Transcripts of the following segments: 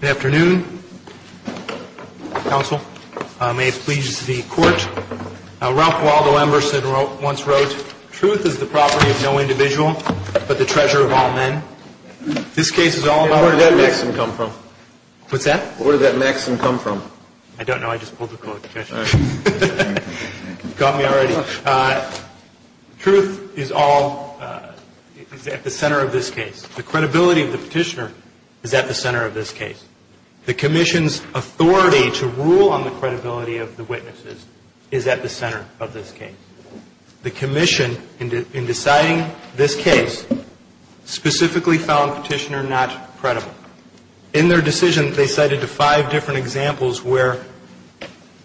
Good afternoon. Council. May it please the Court. Ralph Waldo Emberson once wrote, Truth is the property of no individual, but the treasure of all men. This case is all about What's that? Where did that maxim come from? I don't know. I just pulled a quote. Got me already. Truth is all at the center of this case. The credibility of the petitioner is at the center of this case. The Commission's authority to rule on the credibility of the witnesses is at the center of this case. The Commission, in deciding this case, specifically found Petitioner not credible. In their decision, they cited five different examples where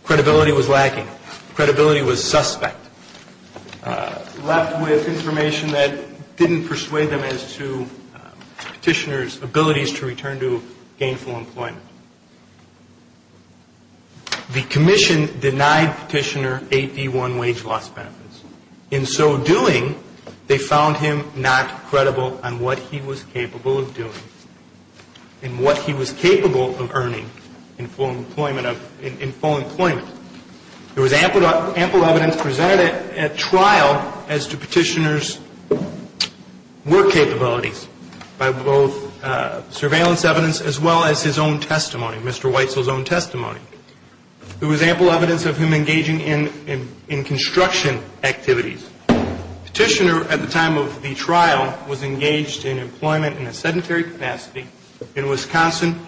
credibility was lacking, credibility was suspect, left with information that didn't persuade them as to Petitioner's abilities to return to gainful employment. The Commission denied Petitioner 8D1 wage loss benefits. In so doing, they found him not credible on what he was capable of doing and what he was capable of earning in full employment. There was ample evidence presented at trial as to Petitioner's work capabilities by both surveillance evidence as well as his own testimony, Mr. Weitzel's own testimony. There was ample evidence of him engaging in construction activities. Petitioner, at the time of the trial, was engaged in employment in a sedentary capacity in Wisconsin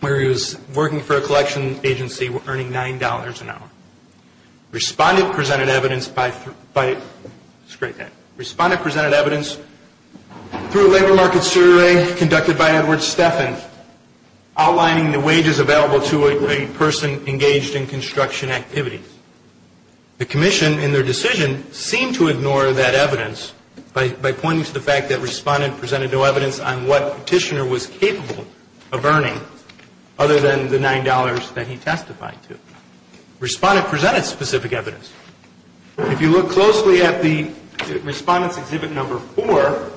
where he was working for a collection agency earning $9 an hour. Respondent presented evidence by, through a labor market survey conducted by Edward Steffen, outlining the wages available to a person engaged in construction activities. The Commission, in their decision, seemed to ignore that evidence by pointing to the fact that Respondent presented no evidence on what Petitioner was capable of earning other than the $9 that he testified to. Respondent presented specific evidence. If you look closely at the Respondent's Exhibit No. 4,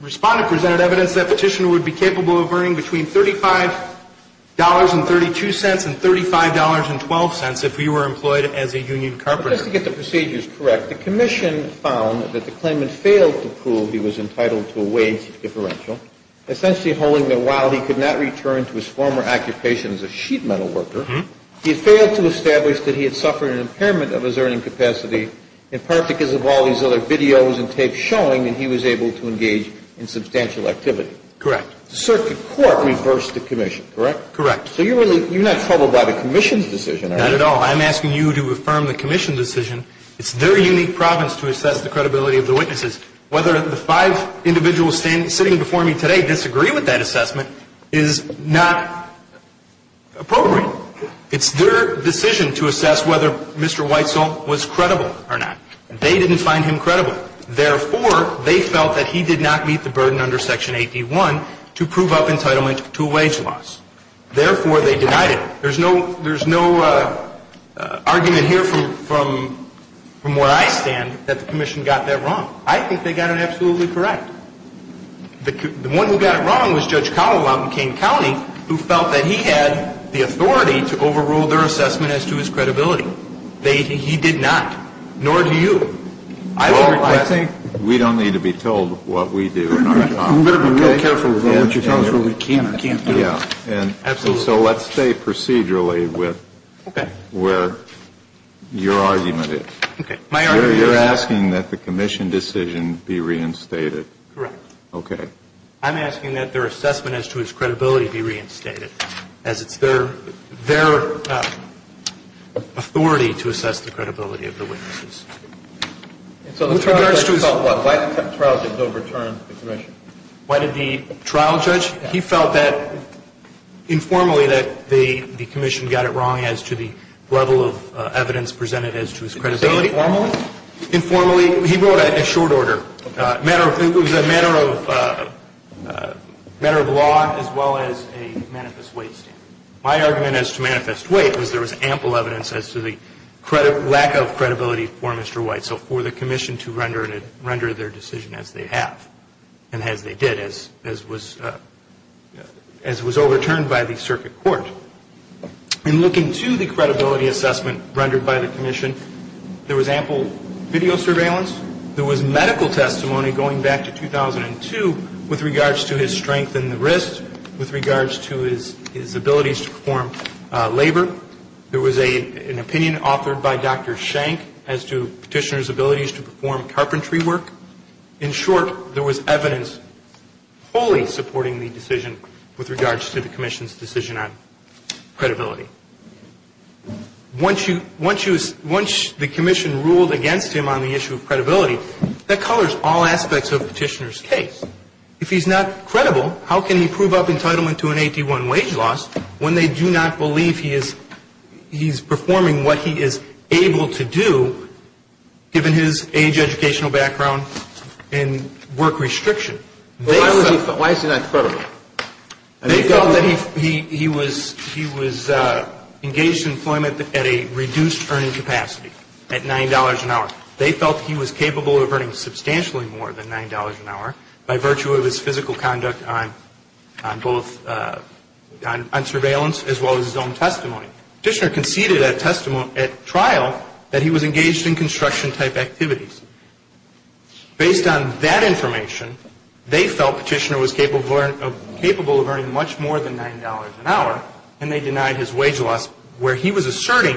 Respondent presented evidence that Petitioner would be capable of earning between $35.32 and $35.12 if he were employed as a union carpenter. And just to get the procedures correct, the Commission found that the claimant failed to prove he was entitled to a wage differential, essentially holding that while he could not return to his former occupation as a sheet metal worker, he had failed to establish that he had suffered an impairment of his earning capacity, in part because of all these other videos and tapes showing that he was able to engage in substantial activity. Correct. The circuit court reversed the Commission, correct? So you're not troubled by the Commission's decision, are you? Not at all. I'm asking you to affirm the Commission's decision. It's their unique province to assess the credibility of the witnesses. Whether the five individuals sitting before me today disagree with that assessment is not appropriate. It's their decision to assess whether Mr. Whitesell was credible or not. They didn't find him credible. Therefore, they felt that he did not meet the burden under Section 8d1 to prove up entitlement to a wage loss. Therefore, they denied it. There's no argument here from where I stand that the Commission got that wrong. I think they got it absolutely correct. The one who got it wrong was Judge Connell out in Kane County, who felt that he had the authority to overrule their assessment as to his credibility. He did not, nor do you. Well, I think we don't need to be told what we do in our job. I'm going to be real careful with what you tell us when we can or can't do. Absolutely. So let's stay procedurally with where your argument is. Okay. You're asking that the Commission decision be reinstated. Correct. Okay. I'm asking that their assessment as to his credibility be reinstated, as it's their authority to assess the credibility of the witnesses. So the trial judge felt what? Why did the trial judge overturn the Commission? Why did the trial judge? He felt that informally that the Commission got it wrong as to the level of evidence presented as to his credibility. Informally? Informally. He wrote a short order. It was a matter of law as well as a manifest weight standard. My argument as to manifest weight was there was ample evidence as to the lack of credibility for Mr. White, so for the Commission to render their decision as they have and as they did, as was overturned by the circuit court. In looking to the credibility assessment rendered by the Commission, there was ample video surveillance. There was medical testimony going back to 2002 with regards to his strength in the wrist, with regards to his abilities to perform labor. There was an opinion authored by Dr. Shank as to Petitioner's abilities to perform carpentry work. In short, there was evidence wholly supporting the decision with regards to the Commission's decision on credibility. Once the Commission ruled against him on the issue of credibility, that colors all aspects of Petitioner's case. If he's not credible, how can he prove up entitlement to an 81 wage loss when they do not believe he is performing what he is able to do, given his age, educational background, and work restriction? Why is he not credible? They felt that he was engaged in employment at a reduced earning capacity at $9 an hour. They felt he was capable of earning substantially more than $9 an hour by virtue of his physical conduct on surveillance as well as his own testimony. Petitioner conceded at trial that he was engaged in construction-type activities. Based on that information, they felt Petitioner was capable of earning much more than $9 an hour, and they denied his wage loss where he was asserting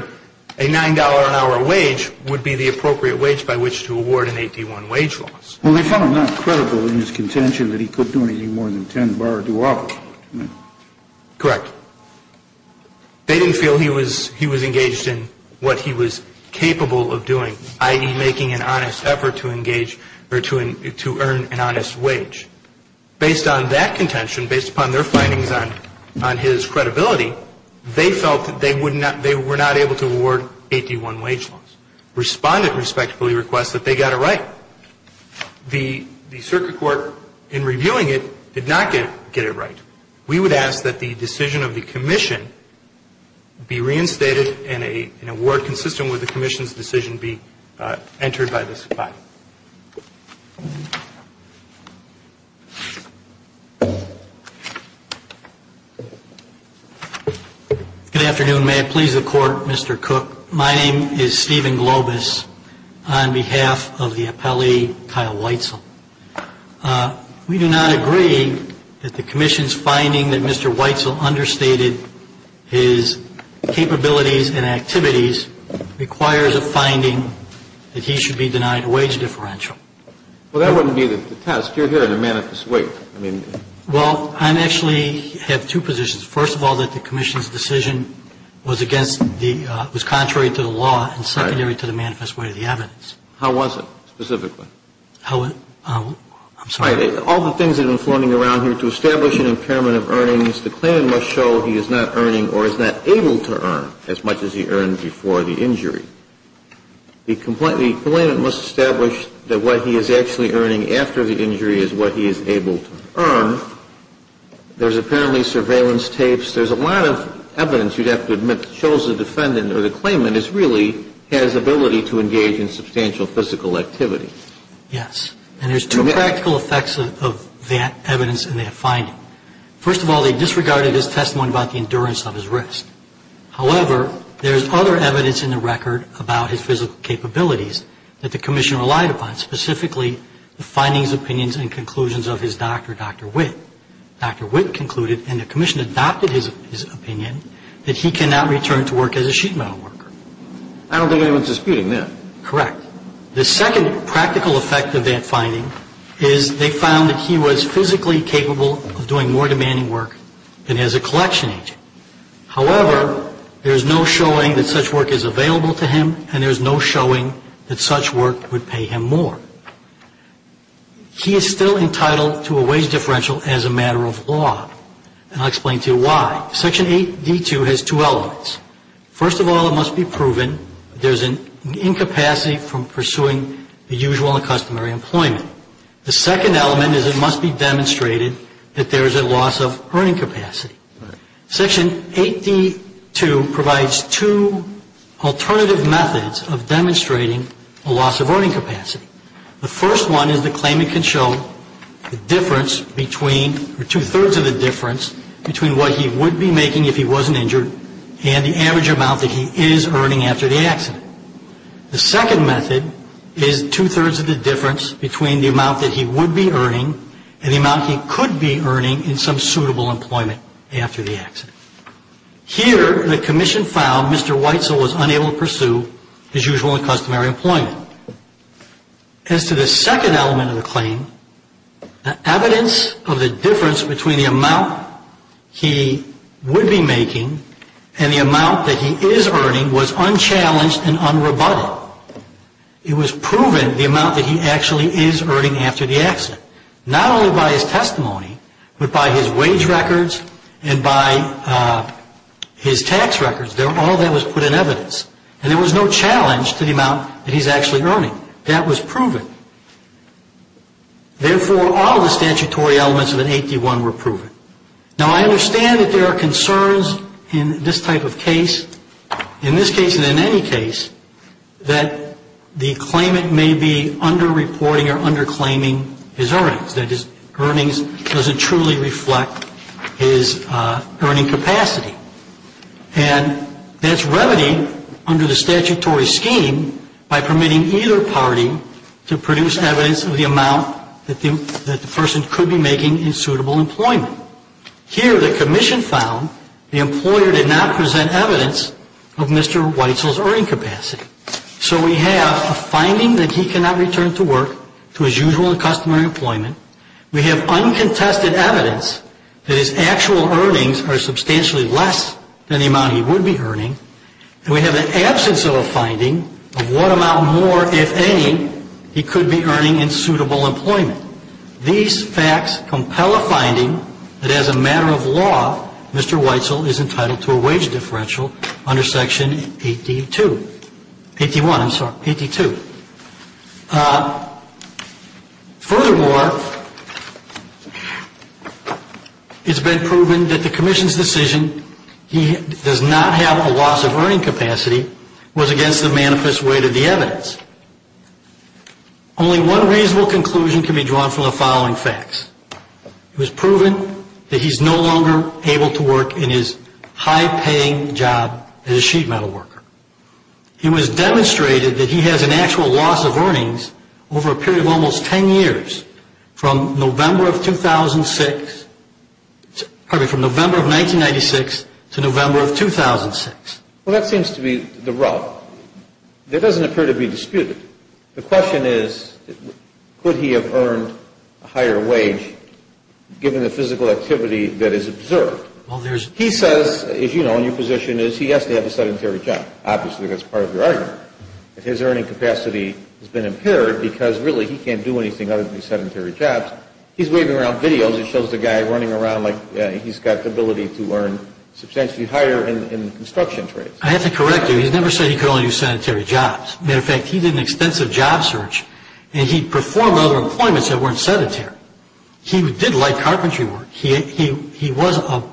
a $9 an hour wage would be the appropriate wage by which to award an 81 wage loss. Well, they found him not credible in his contention that he could do anything more than 10 bar or do opposite. Correct. They didn't feel he was engaged in what he was capable of doing, i.e., making an honest effort to engage or to earn an honest wage. Based on that contention, based upon their findings on his credibility, they felt that they were not able to award 81 wage loss. The Circuit Court, in reviewing it, did not get it right. We would ask that the decision of the Commission be reinstated and an award consistent with the Commission's decision be entered by this Court. Good afternoon. May it please the Court, Mr. Cook. My name is Stephen Cook. I'm here in Globus on behalf of the appellee, Kyle Weitzel. We do not agree that the Commission's finding that Mr. Weitzel understated his capabilities and activities requires a finding that he should be denied a wage differential. Well, that wouldn't be the test. You're here in a manifest way. Well, I actually have two positions. First of all, that the Commission's decision was contrary to the law and secondary to the manifest way of the evidence. How was it specifically? I'm sorry. All the things that have been floating around here, to establish an impairment of earnings, the claimant must show he is not earning or is not able to earn as much as he earned before the injury. The claimant must establish that what he is actually earning after the injury is what he is able to earn. There's apparently surveillance tapes. There's a lot of evidence, you'd have to admit, that shows the defendant or the claimant really has ability to engage in substantial physical activity. Yes. And there's two practical effects of that evidence and that finding. First of all, they disregarded his testimony about the endurance of his wrist. However, there's other evidence in the record about his physical capabilities that the Commission relied upon, specifically the findings, opinions, and conclusions of his doctor, Dr. Witt. Dr. Witt concluded, and the Commission adopted his opinion, that he cannot return to work as a sheet metal worker. I don't think anyone's disputing that. Correct. The second practical effect of that finding is they found that he was physically capable of doing more demanding work than as a collection agent. However, there's no showing that such work is available to him and there's no showing that such work would pay him more. He is still entitled to a wage differential as a matter of law. And I'll explain to you why. Section 8D2 has two elements. First of all, it must be proven there's an incapacity from pursuing the usual and customary employment. The second element is it must be demonstrated that there is a loss of earning capacity. Section 8D2 provides two alternative methods of demonstrating a loss of earning capacity. The first one is the claimant can show the difference between, or two-thirds of the difference, between what he would be making if he wasn't injured and the average amount that he is earning after the accident. The second method is two-thirds of the difference between the amount that he would be earning and the amount he could be earning in some suitable employment after the accident. Here, the commission found Mr. Whitesell was unable to pursue his usual and customary employment. As to the second element of the claim, the evidence of the difference between the amount he would be making and the amount that he is earning was unchallenged and unrebutted. It was proven the amount that he actually is earning after the accident, not only by his testimony, but by his wage records and by his tax records. All that was put in evidence, and there was no challenge to the amount that he's actually earning. That was proven. Therefore, all the statutory elements of an 8D1 were proven. Now, I understand that there are concerns in this type of case. In this case and in any case, that the claimant may be underreporting or underclaiming his earnings. That his earnings doesn't truly reflect his earning capacity. And that's remedied under the statutory scheme by permitting either party to produce evidence of the amount that the person could be making in suitable employment. Here, the commission found the employer did not present evidence of Mr. Weitzel's earning capacity. So we have a finding that he cannot return to work to his usual and customary employment. We have uncontested evidence that his actual earnings are substantially less than the amount he would be earning. And we have an absence of a finding of what amount more, if any, he could be earning in suitable employment. These facts compel a finding that as a matter of law, Mr. Weitzel is entitled to a wage differential under section 8D2. 8D1, I'm sorry, 8D2. Furthermore, it's been proven that the commission's decision he does not have a loss of earning capacity was against the manifest weight of the evidence. Only one reasonable conclusion can be drawn from the following facts. It was proven that he's no longer able to work in his high-paying job as a sheet metal worker. It was demonstrated that he has an actual loss of earnings over a period of almost 10 years from November of 2006, pardon me, from November of 1996 to November of 2006. Well, that seems to be the route. That doesn't appear to be disputed. The question is, could he have earned a higher wage given the physical activity that is observed? He says, as you know, your position is he has to have a sedentary job. Obviously, that's part of your argument. His earning capacity has been impaired because really he can't do anything other than sedentary jobs. He's waving around videos that shows the guy running around like he's got the ability to earn substantially higher in construction trades. I have to correct you. He's never said he could only do sedentary jobs. Matter of fact, he did an extensive job search, and he performed other employments that weren't sedentary. He did light carpentry work. He was a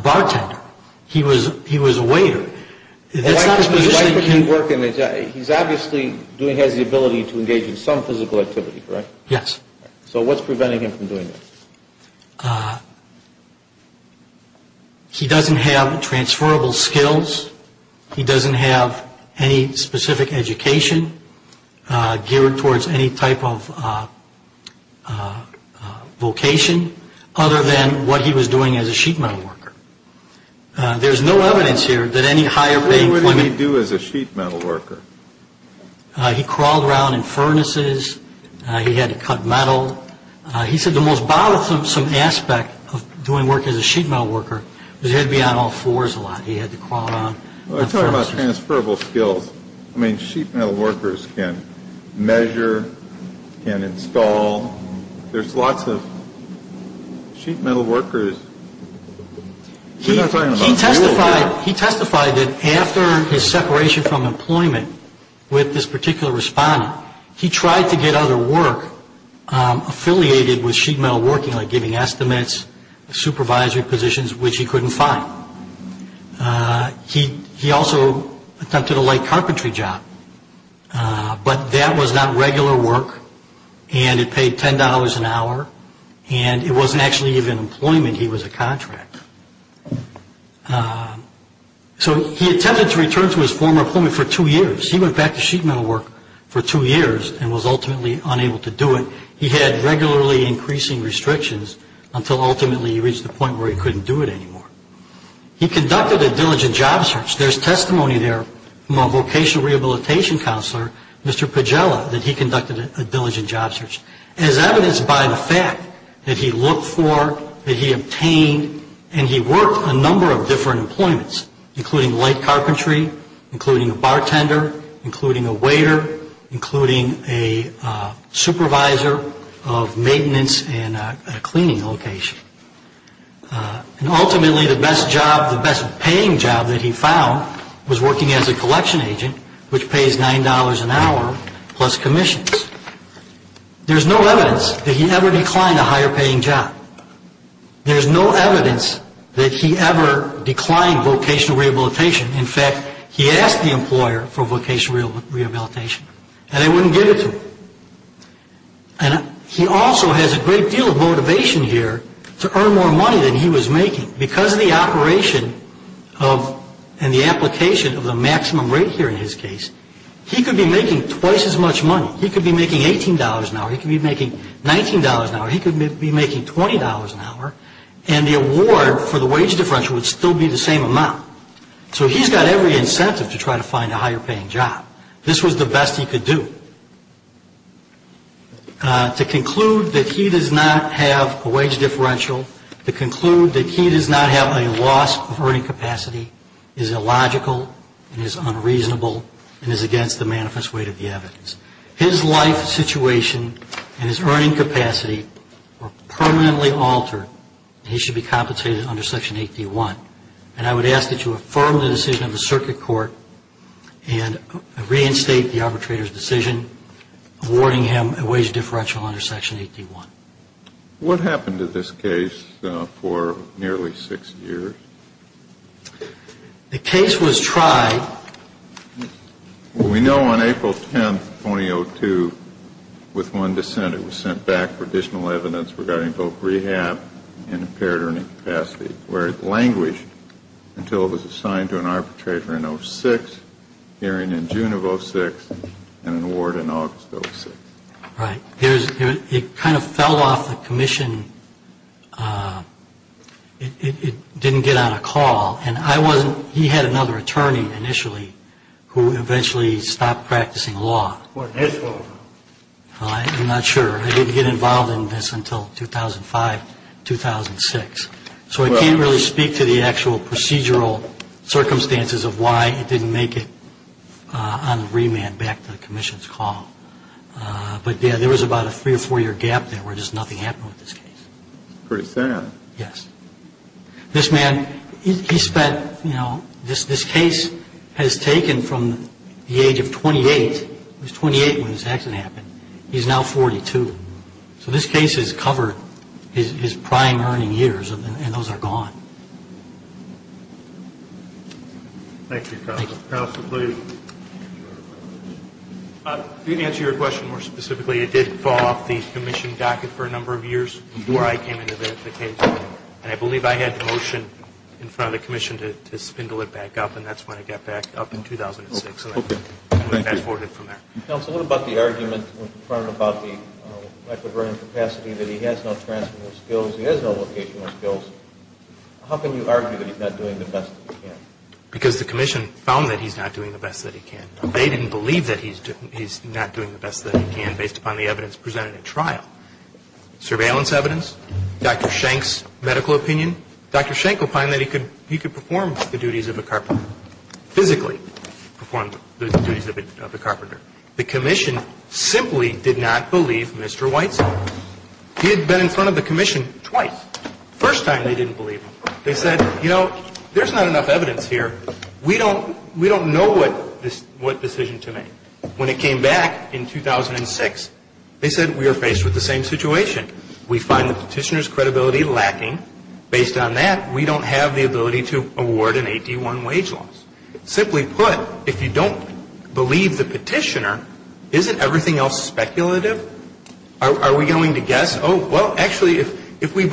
bartender. He was a waiter. That's not his position. He's obviously has the ability to engage in some physical activity, correct? Yes. So what's preventing him from doing that? He doesn't have transferable skills. He doesn't have any specific education geared towards any type of vocation, other than what he was doing as a sheet metal worker. There's no evidence here that any higher paying employment. What did he do as a sheet metal worker? He crawled around in furnaces. He had to cut metal. He said the most bothersome aspect of doing work as a sheet metal worker was he had to be on all fours a lot. He had to crawl around. I'm talking about transferable skills. I mean, sheet metal workers can measure, can install. There's lots of sheet metal workers. He testified that after his separation from employment with this particular respondent, he tried to get other work affiliated with sheet metal working, like giving estimates, supervisory positions, which he couldn't find. He also attempted a light carpentry job, but that was not regular work, and it paid $10 an hour, and it wasn't actually even employment. He was a contract. So he attempted to return to his former employment for two years. He went back to sheet metal work for two years and was ultimately unable to do it. He had regularly increasing restrictions until ultimately he reached the point where he couldn't do it anymore. He conducted a diligent job search. There's testimony there from a vocational rehabilitation counselor, Mr. Pagela, that he conducted a diligent job search as evidenced by the fact that he looked for, that he obtained, and he worked a number of different employments, including light carpentry, including a bartender, including a waiter, including a supervisor of maintenance and a cleaning location. And ultimately the best job, the best paying job that he found was working as a collection agent, which pays $9 an hour plus commissions. There's no evidence that he ever declined a higher paying job. There's no evidence that he ever declined vocational rehabilitation. In fact, he asked the employer for vocational rehabilitation, and they wouldn't give it to him. And he also has a great deal of motivation here to earn more money than he was making. Because of the operation and the application of the maximum rate here in his case, he could be making twice as much money. He could be making $18 an hour. He could be making $19 an hour. He could be making $20 an hour, and the award for the wage differential would still be the same amount. So he's got every incentive to try to find a higher paying job. This was the best he could do. To conclude that he does not have a wage differential, to conclude that he does not have a loss of earning capacity is illogical and is unreasonable and is against the manifest weight of the evidence. His life situation and his earning capacity were permanently altered, and he should be compensated under Section 8D1. And I would ask that you affirm the decision of the Circuit Court and reinstate the arbitrator's decision awarding him a wage differential under Section 8D1. What happened to this case for nearly six years? The case was tried. Well, we know on April 10, 2002, with one dissent, it was sent back for additional evidence regarding both rehab and impaired earning capacity, where it languished until it was assigned to an arbitrator in 06, hearing in June of 06, and an award in August of 06. Right. It kind of fell off the commission. It didn't get on a call. And I wasn't he had another attorney initially who eventually stopped practicing law. What, his fault? I'm not sure. I didn't get involved in this until 2005, 2006. So I can't really speak to the actual procedural circumstances of why it didn't make it on remand back to the commission's call. But, yeah, there was about a three- or four-year gap there where just nothing happened with this case. Pretty sad. Yes. This man, he spent, you know, this case has taken from the age of 28. He was 28 when this accident happened. He's now 42. So this case has covered his prime earning years, and those are gone. Thank you, counsel. Counsel, please. To answer your question more specifically, it did fall off the commission docket for a number of years before I came into the case. And I believe I had the motion in front of the commission to spindle it back up, and that's when it got back up in 2006. So I'm going to fast-forward it from there. Counsel, what about the argument in front about the lack of earning capacity, that he has no transferable skills, he has no locational skills? How can you argue that he's not doing the best that he can? Because the commission found that he's not doing the best that he can. They didn't believe that he's not doing the best that he can based upon the evidence presented at trial. Surveillance evidence, Dr. Shank's medical opinion. Dr. Shank opined that he could perform the duties of a carpenter, physically perform the duties of a carpenter. The commission simply did not believe Mr. Whiteside. He had been in front of the commission twice. First time they didn't believe him. They said, you know, there's not enough evidence here. We don't know what decision to make. When it came back in 2006, they said we are faced with the same situation. We find the petitioner's credibility lacking. Based on that, we don't have the ability to award an 8D1 wage loss. Simply put, if you don't believe the petitioner, isn't everything else speculative? Are we going to guess, oh, well, actually, if we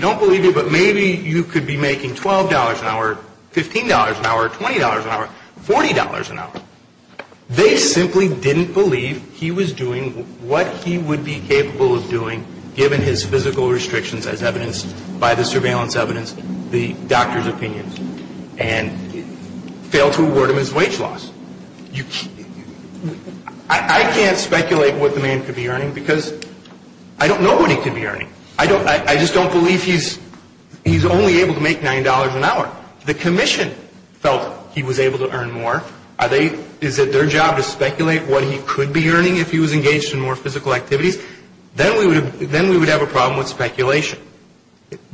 don't believe you, but maybe you could be making $12 an hour, $15 an hour, $20 an hour, $40 an hour. They simply didn't believe he was doing what he would be capable of doing, given his physical restrictions as evidenced by the surveillance evidence, the doctor's opinions, and failed to award him his wage loss. I can't speculate what the man could be earning because I don't know what he could be earning. I just don't believe he's only able to make $9 an hour. The commission felt he was able to earn more. Is it their job to speculate what he could be earning if he was engaged in more physical activities? Then we would have a problem with speculation.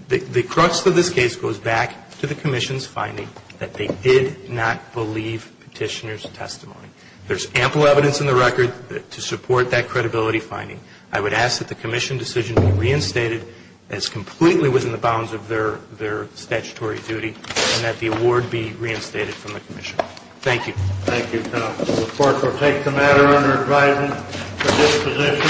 The crux of this case goes back to the commission's finding that they did not believe petitioner's testimony. There's ample evidence in the record to support that credibility finding. I would ask that the commission decision be reinstated as completely within the bounds of their statutory duty and that the award be reinstated from the commission. Thank you. Thank you, counsel. The court will take the matter under advisement for this position.